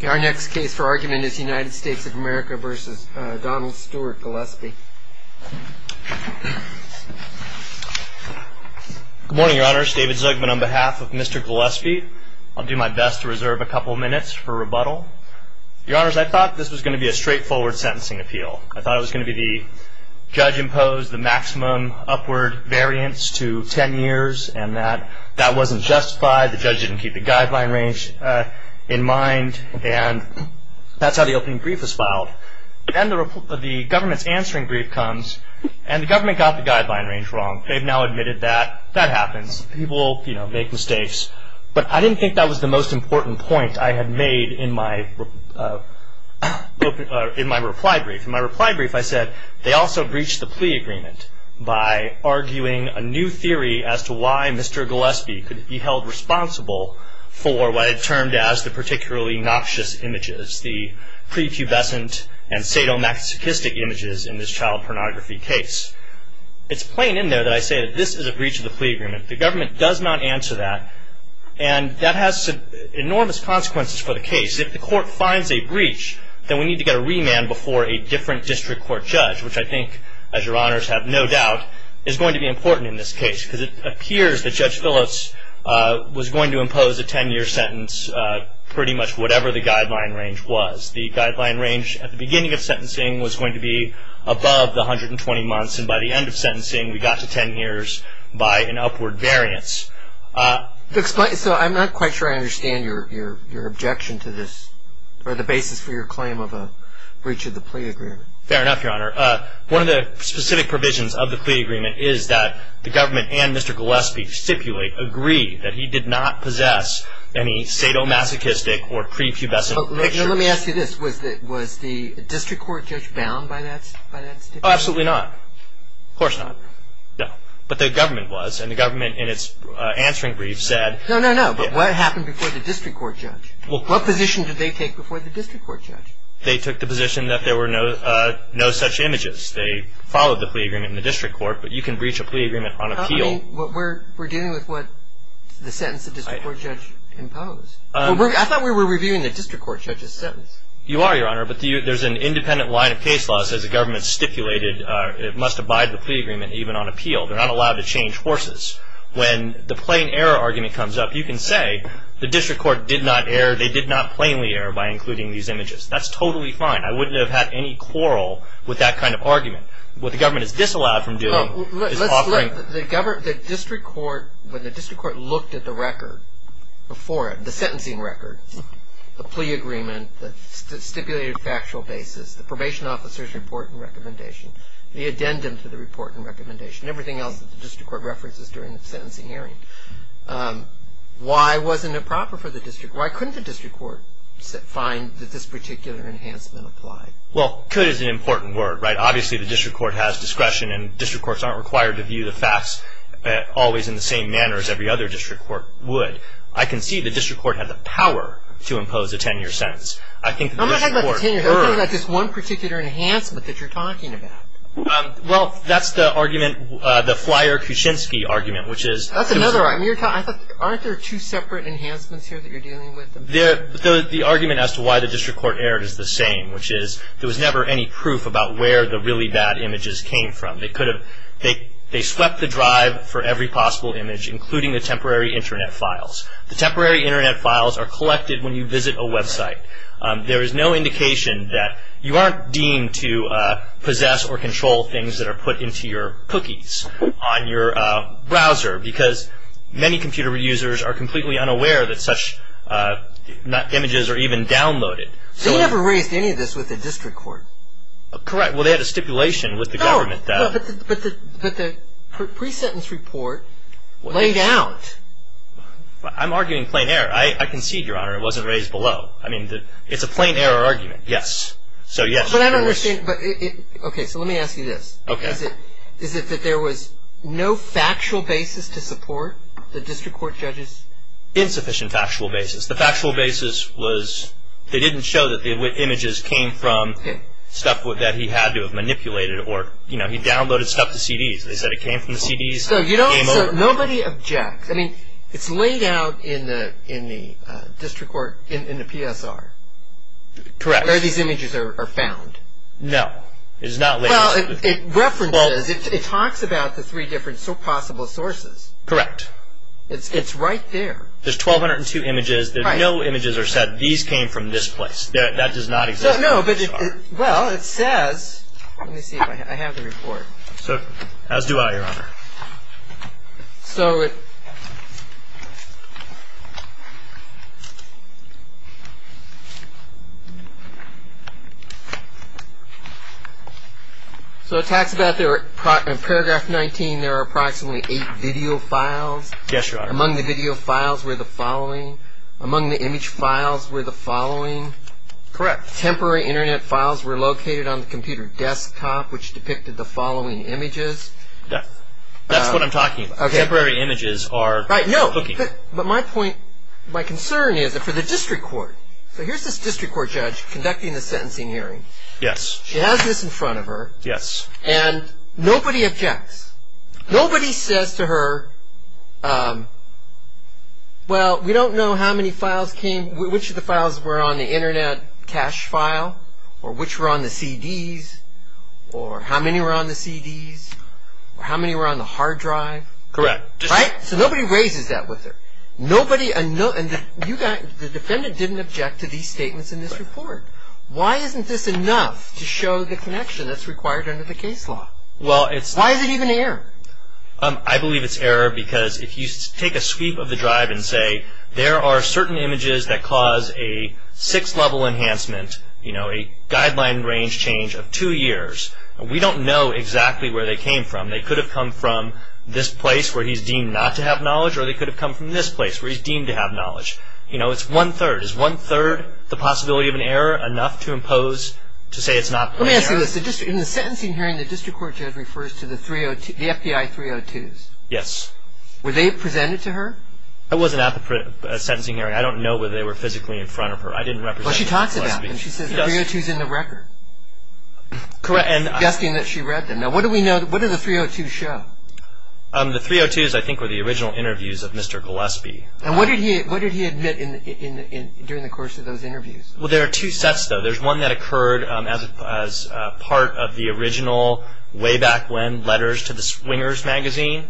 Good morning, your honors. David Zugman on behalf of Mr. Gillespie. I'll do my best to reserve a couple of minutes for rebuttal. Your honors, I thought this was going to be a straightforward sentencing appeal. I thought it was going to be the judge imposed the maximum upward variance to ten years and that that wasn't justified. The judge didn't keep the guideline range in mind and that's how the opening brief was filed. Then the government's answering brief comes and the government got the guideline range wrong. They've now admitted that that happens. People, you know, make mistakes. But I didn't think that was the most important point I had made in my reply brief. In my reply brief I said they also breached the plea agreement by arguing a new theory as to why Mr. Gillespie could be held responsible for what it termed as the particularly noxious images, the prepubescent and sadomasochistic images in this child pornography case. It's plain in there that I say that this is a breach of the plea agreement. The government does not answer that and that has enormous consequences for the case. If the court finds a breach, then we need to get a remand before a different district court judge, which I think, as your honors have no doubt, is going to be important in this case because it appears that Judge Phillips was going to impose a ten-year sentence pretty much whatever the guideline range was. The guideline range at the beginning of sentencing was going to be above the 120 months and by the end of sentencing we got to ten years by an upward variance. So I'm not quite sure I understand your objection to this or the basis for your claim of a breach of the plea agreement. Fair enough, your honor. One of the specific provisions of the plea agreement is that the government and Mr. Gillespie stipulate, agree that he did not possess any sadomasochistic or prepubescent pictures. Let me ask you this. Was the district court judge bound by that stipulation? Absolutely not. Of course not. No. But the government was and the government in its answering brief said. No, no, no. But what happened before the district court judge? What position did they take before the district court judge? They took the position that there were no such images. They followed the plea agreement in the district court, but you can breach a plea agreement on appeal. I mean, we're dealing with what the sentence the district court judge imposed. I thought we were reviewing the district court judge's sentence. You are, your honor, but there's an independent line of case law that says the government stipulated it must abide the plea agreement even on appeal. They're not allowed to change horses. When the plain error argument comes up, you can say the district court did not err. They did not plainly err by including these images. That's totally fine. I wouldn't have had any quarrel with that kind of argument. What the government is disallowed from doing is offering. The district court, when the district court looked at the record before it, the sentencing record, the plea agreement, the stipulated factual basis, the probation officer's report and recommendation, the addendum to the report and recommendation, everything else that the district court references during the sentencing hearing, why wasn't it proper for the district court, why couldn't the district court find that this particular enhancement applied? Well, could is an important word, right? Obviously, the district court has discretion, and district courts aren't required to view the facts always in the same manner as every other district court would. I can see the district court had the power to impose a 10-year sentence. I think the district court erred. I'm not talking about the 10 years. I'm talking about just one particular enhancement that you're talking about. Well, that's the argument, the flyer Kuczynski argument, which is. That's another argument. Aren't there two separate enhancements here that you're dealing with? The argument as to why the district court erred is the same, which is there was never any proof about where the really bad images came from. They swept the drive for every possible image, including the temporary Internet files. The temporary Internet files are collected when you visit a website. There is no indication that you aren't deemed to possess or control things that are put into your cookies on your browser, because many computer users are completely unaware that such images are even downloaded. They never raised any of this with the district court. Correct. Well, they had a stipulation with the government that. But the pre-sentence report laid out. I'm arguing plain error. I concede, Your Honor, it wasn't raised below. I mean, it's a plain error argument. Yes. But I don't understand. Okay. So let me ask you this. Okay. Is it that there was no factual basis to support the district court judges? Insufficient factual basis. The factual basis was they didn't show that the images came from stuff that he had to have manipulated, or he downloaded stuff to CDs. They said it came from the CDs. So nobody objects. I mean, it's laid out in the district court, in the PSR. Correct. Where these images are found. No. It is not laid out. Well, it references. It talks about the three different possible sources. Correct. It's right there. There's 1202 images. No images are said, these came from this place. That does not exist in the PSR. No. Well, it says. Let me see if I have the report. As do I, Your Honor. So it talks about in paragraph 19 there are approximately eight video files. Yes, Your Honor. Among the video files were the following. Among the image files were the following. Correct. Temporary Internet files were located on the computer desktop, which depicted the following images. That's what I'm talking about. Okay. Temporary images are. Right. No. But my point, my concern is that for the district court. So here's this district court judge conducting the sentencing hearing. Yes. She has this in front of her. Yes. And nobody objects. Nobody says to her, well, we don't know how many files came, which of the files were on the Internet cache file or which were on the CDs or how many were on the CDs or how many were on the hard drive. Correct. Right? So nobody raises that with her. Nobody, and the defendant didn't object to these statements in this report. Why isn't this enough to show the connection that's required under the case law? Well, it's. Why is it even an error? I believe it's error because if you take a sweep of the drive and say, there are certain images that cause a six-level enhancement, you know, a guideline range change of two years, we don't know exactly where they came from. They could have come from this place where he's deemed not to have knowledge or they could have come from this place where he's deemed to have knowledge. You know, it's one-third. Is one-third the possibility of an error enough to impose, to say it's not. Let me ask you this. In the sentencing hearing, the district court judge refers to the FBI 302s. Yes. Were they presented to her? I wasn't at the sentencing hearing. I don't know whether they were physically in front of her. I didn't represent Mr. Gillespie. Well, she talks about them. She says the 302s are in the record. Correct. Suggesting that she read them. Now, what do we know? What do the 302s show? The 302s, I think, were the original interviews of Mr. Gillespie. And what did he admit during the course of those interviews? Well, there are two sets, though. There's one that occurred as part of the original, way back when, letters to the Swingers magazine.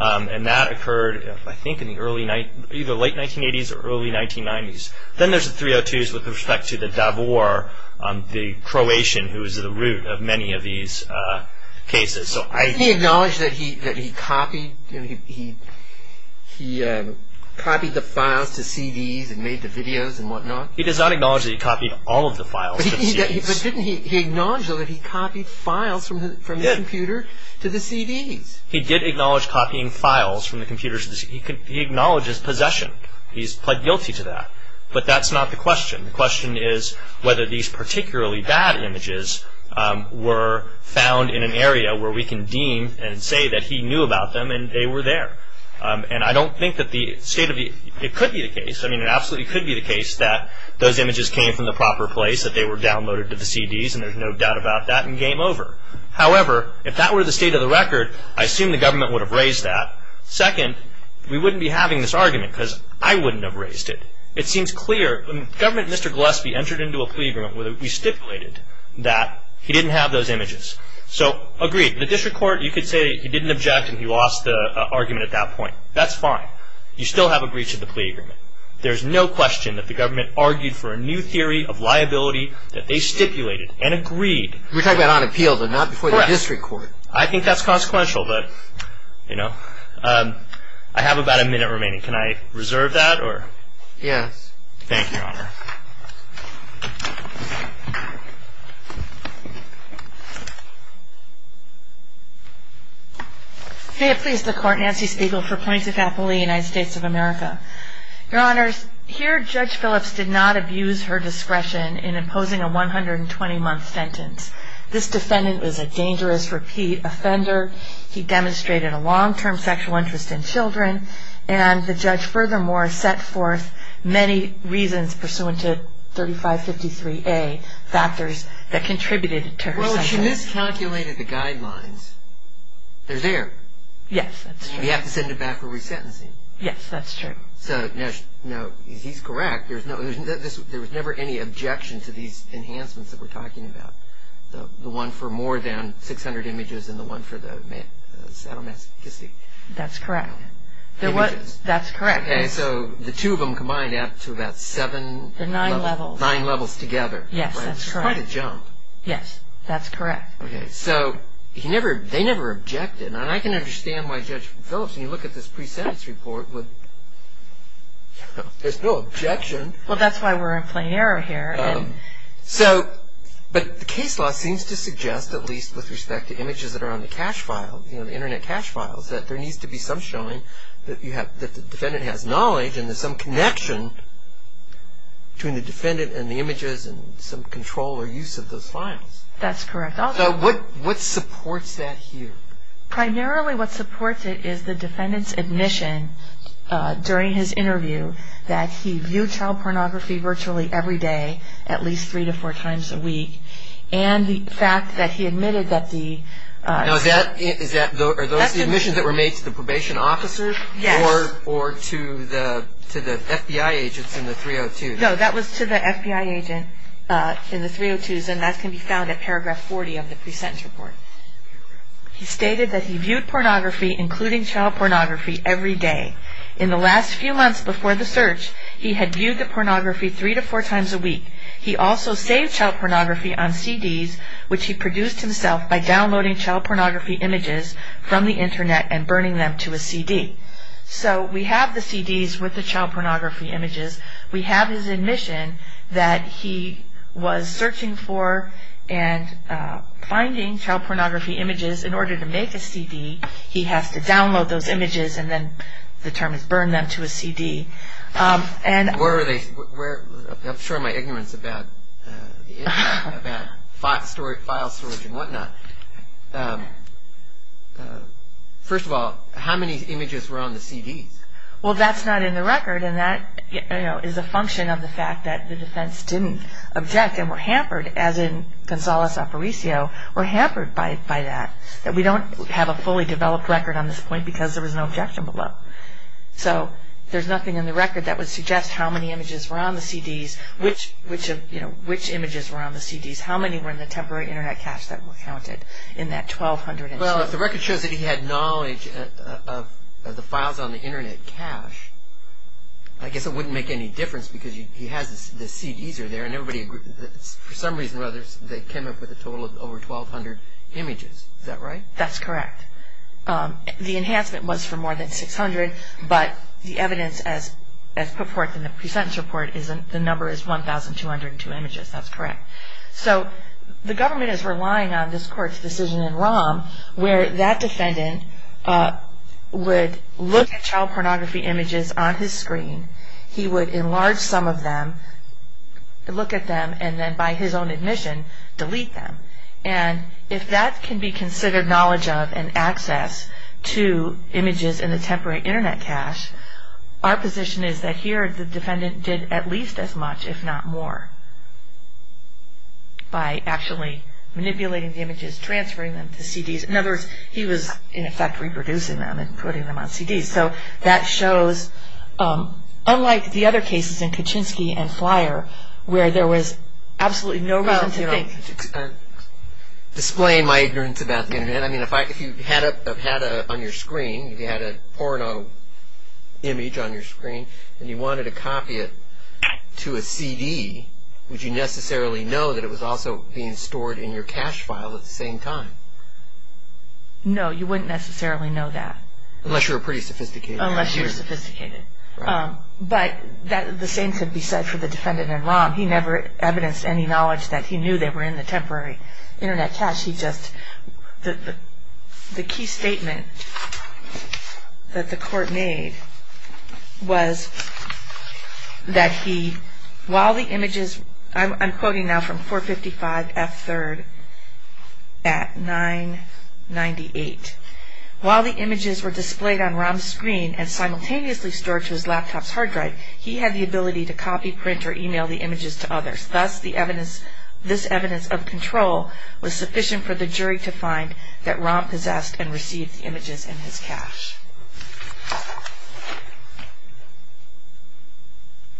And that occurred, I think, in the late 1980s or early 1990s. Then there's the 302s with respect to the Davor, the Croatian, who was at the root of many of these cases. Does he acknowledge that he copied the files to CDs and made the videos and whatnot? He does not acknowledge that he copied all of the files to the CDs. But didn't he acknowledge, though, that he copied files from the computer to the CDs? He did acknowledge copying files from the computers to the CDs. He acknowledged his possession. He's pled guilty to that. But that's not the question. The question is whether these particularly bad images were found in an area where we can deem and say that he knew about them and they were there. I mean, it absolutely could be the case that those images came from the proper place, that they were downloaded to the CDs, and there's no doubt about that, and game over. However, if that were the state of the record, I assume the government would have raised that. Second, we wouldn't be having this argument because I wouldn't have raised it. It seems clear. The government, Mr. Gillespie, entered into a plea agreement where we stipulated that he didn't have those images. So, agreed. The district court, you could say he didn't object and he lost the argument at that point. That's fine. You still have a breach of the plea agreement. There's no question that the government argued for a new theory of liability that they stipulated and agreed. We're talking about on appeal, though, not before the district court. I think that's consequential, but, you know. I have about a minute remaining. Can I reserve that? Yes. Thank you, Your Honor. May it please the Court, Nancy Spiegel for points of appeal in the United States of America. Your Honors, here Judge Phillips did not abuse her discretion in imposing a 120-month sentence. This defendant was a dangerous repeat offender. He demonstrated a long-term sexual interest in children, and the judge, furthermore, set forth many reasons pursuant to his conviction. I'm sorry. 3553A factors that contributed to her sentence. Well, she miscalculated the guidelines. They're there. Yes, that's true. You have to send it back for resentencing. Yes, that's true. So, no, he's correct. There was never any objection to these enhancements that we're talking about, the one for more than 600 images and the one for the sadomasochistic. That's correct. Images. That's correct. Okay, so the two of them combined add up to about seven levels. Nine levels. Nine levels together. Yes, that's correct. Quite a jump. Yes, that's correct. Okay, so they never objected, and I can understand why Judge Phillips, when you look at this pre-sentence report, would... There's no objection. Well, that's why we're in plain error here. So, but the case law seems to suggest, at least with respect to images that are on the cache file, the Internet cache files, that there needs to be some showing that the defendant has knowledge and there's some connection between the defendant and the images and some control or use of those files. That's correct. So what supports that here? Primarily what supports it is the defendant's admission during his interview that he viewed child pornography virtually every day at least three to four times a week, and the fact that he admitted that the... Now, is that... are those the admissions that were made to the probation officer or to the FBI agents in the 302s? No, that was to the FBI agent in the 302s, and that can be found at paragraph 40 of the pre-sentence report. He stated that he viewed pornography, including child pornography, every day. In the last few months before the search, he had viewed the pornography three to four times a week. He also saved child pornography on CDs, which he produced himself by downloading child pornography images from the Internet and burning them to a CD. So we have the CDs with the child pornography images. We have his admission that he was searching for and finding child pornography images in order to make a CD. He has to download those images, and then the term is burn them to a CD. I'm sure my ignorance about file storage and whatnot... First of all, how many images were on the CDs? Well, that's not in the record, and that is a function of the fact that the defense didn't object and were hampered, as in Gonzales-Aparicio, were hampered by that, that we don't have a fully developed record on this point because there was no objection below. So there's nothing in the record that would suggest how many images were on the CDs, which images were on the CDs, how many were in the temporary Internet cache that were counted in that 1,200... Well, if the record shows that he had knowledge of the files on the Internet cache, I guess it wouldn't make any difference because he has the CDs there, and everybody agrees that for some reason or other they came up with a total of over 1,200 images. Is that right? That's correct. The enhancement was for more than 600, but the evidence, as put forth in the pre-sentence report, the number is 1,202 images. That's correct. So the government is relying on this Court's decision in ROM where that defendant would look at child pornography images on his screen, he would enlarge some of them, look at them, and then by his own admission, delete them. And if that can be considered knowledge of and access to images in the temporary Internet cache, our position is that here the defendant did at least as much, if not more, by actually manipulating the images, transferring them to CDs. In other words, he was, in effect, reproducing them and putting them on CDs. So that shows, unlike the other cases in Kaczynski and Flyer, where there was absolutely no reason to think... Well, to explain my ignorance about the Internet, I mean, if you had a, on your screen, if you had a porno image on your screen and you wanted to copy it to a CD, would you necessarily know that it was also being stored in your cache file at the same time? No, you wouldn't necessarily know that. Unless you were pretty sophisticated. Unless you were sophisticated. But the same could be said for the defendant in ROM. He never evidenced any knowledge that he knew they were in the temporary Internet cache. He just, the key statement that the Court made was that he, while the images, I'm quoting now from 455 F. 3rd at 998. While the images were displayed on ROM's screen and simultaneously stored to his laptop's hard drive, he had the ability to copy, print, or email the images to others. Thus, this evidence of control was sufficient for the jury to find that ROM possessed and received the images in his cache.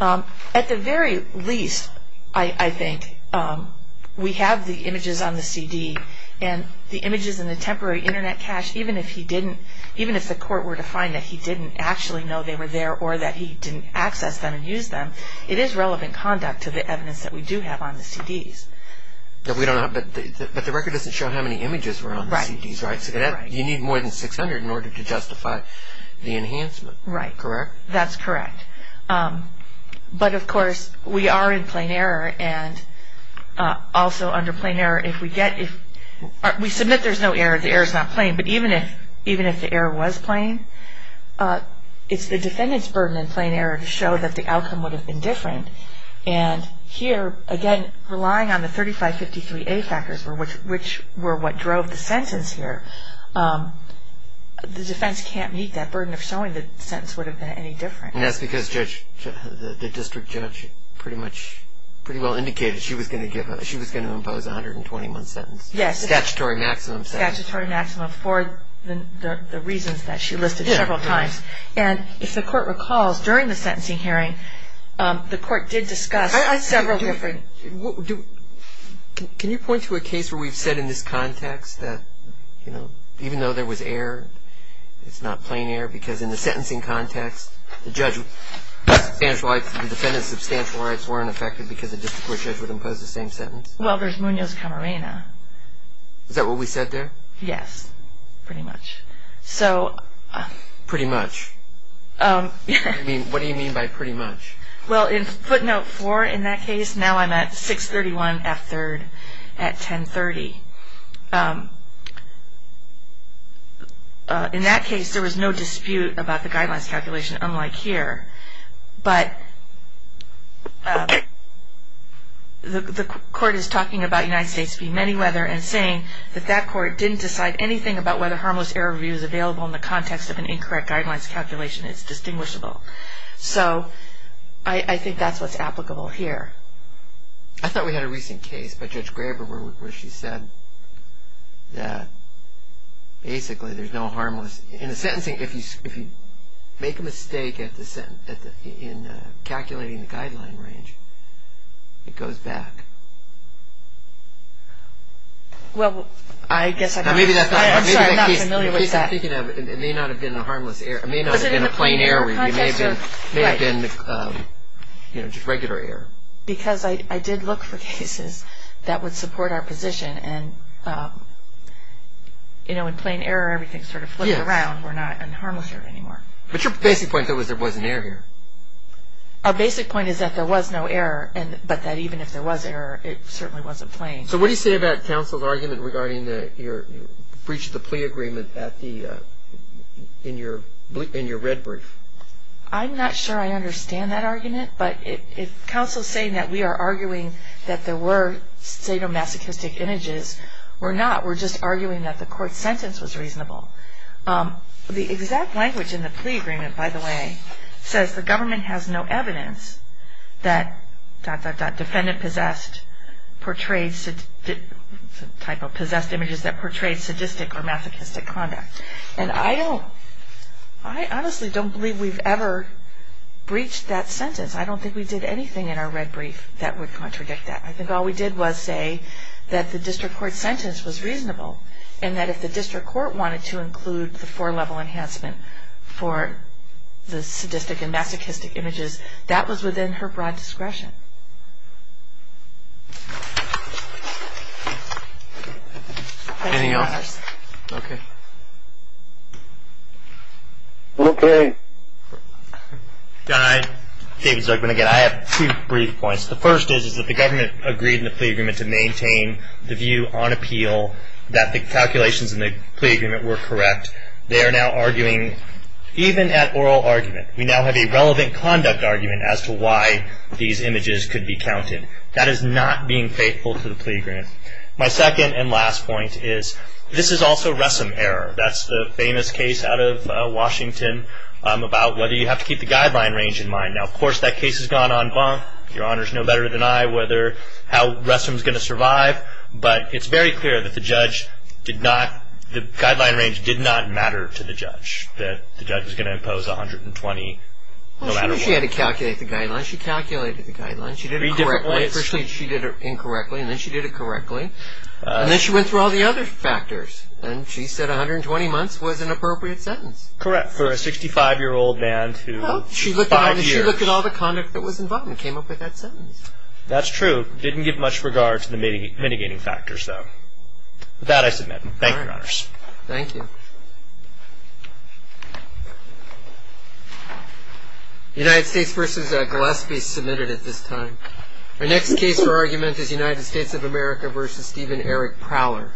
At the very least, I think, we have the images on the CD, and the images in the temporary Internet cache, even if he didn't, even if the Court were to find that he didn't actually know they were there or that he didn't access them and use them, it is relevant conduct to the evidence that we do have on the CDs. But we don't have, but the record doesn't show how many images were on the CDs, right? So you need more than 600 in order to justify that. To justify the enhancement. Right. Correct? That's correct. But, of course, we are in plain error, and also under plain error, if we get, we submit there's no error, the error's not plain, but even if the error was plain, it's the defendant's burden in plain error to show that the outcome would have been different. And here, again, relying on the 3553A factors, which were what drove the sentence here, the defense can't meet that burden of showing the sentence would have been any different. And that's because the district judge pretty well indicated she was going to impose a 121 sentence. Yes. Statutory maximum sentence. Statutory maximum for the reasons that she listed several times. And if the Court recalls, during the sentencing hearing, the Court did discuss several different... Can you point to a case where we've said in this context that even though there was error, it's not plain error because in the sentencing context, the defendant's substantial rights weren't affected because the district court judge would impose the same sentence? Well, there's Munoz-Camarena. Is that what we said there? Yes, pretty much. Pretty much? What do you mean by pretty much? Well, in footnote four in that case, now I'm at 631F3rd at 1030. In that case, there was no dispute about the guidelines calculation, unlike here. But the Court is talking about United States v. Manyweather and saying that that Court didn't decide anything about whether harmless error review is available in the context of an incorrect guidelines calculation. It's distinguishable. So I think that's what's applicable here. I thought we had a recent case by Judge Graber where she said that basically there's no harmless... In the sentencing, if you make a mistake in calculating the guideline range, it goes back. Well, I guess I'm not familiar with that. It may not have been a harmless error. It may not have been a plain error review. It may have been just regular error. Because I did look for cases that would support our position. And in plain error, everything sort of flipped around. We're not in harmless error anymore. But your basic point is there wasn't error here. Our basic point is that there was no error, but that even if there was error, it certainly wasn't plain. So what do you say about counsel's argument regarding your breach of the plea agreement in your red brief? I'm not sure I understand that argument. But if counsel's saying that we are arguing that there were sadomasochistic images, we're not. We're just arguing that the court's sentence was reasonable. The exact language in the plea agreement, by the way, says the government has no evidence that... defendant possessed portrayed... possessed images that portrayed sadistic or masochistic conduct. And I don't... I honestly don't believe we've ever breached that sentence. I don't think we did anything in our red brief that would contradict that. I think all we did was say that the district court's sentence was reasonable and that if the district court wanted to include the four-level enhancement for the sadistic and masochistic images, that was within her broad discretion. Any others? Okay. Okay. David Zuckman again. I have two brief points. The first is that the government agreed in the plea agreement to maintain the view on appeal that the calculations in the plea agreement were correct. They are now arguing, even at oral argument, we now have a relevant conduct argument as to why these images could be counted. That is not being faithful to the plea agreement. My second and last point is, this is also Ressam error. That's the famous case out of Washington about whether you have to keep the guideline range in mind. Now, of course, that case has gone en banc. Your honors know better than I how Ressam's going to survive. But it's very clear that the guideline range did not matter to the judge, that the judge was going to impose 120. She had to calculate the guidelines. She calculated the guidelines. She did it correctly. First, she did it incorrectly, and then she did it correctly. And then she went through all the other factors, and she said 120 months was an appropriate sentence. Correct, for a 65-year-old man to five years. She looked at all the conduct that was involved and came up with that sentence. That's true. Didn't give much regard to the mitigating factors, though. With that, I submit. Thank you, your honors. Thank you. United States v. Gillespie submitted at this time. Our next case for argument is United States of America v. Stephen Eric Prowler.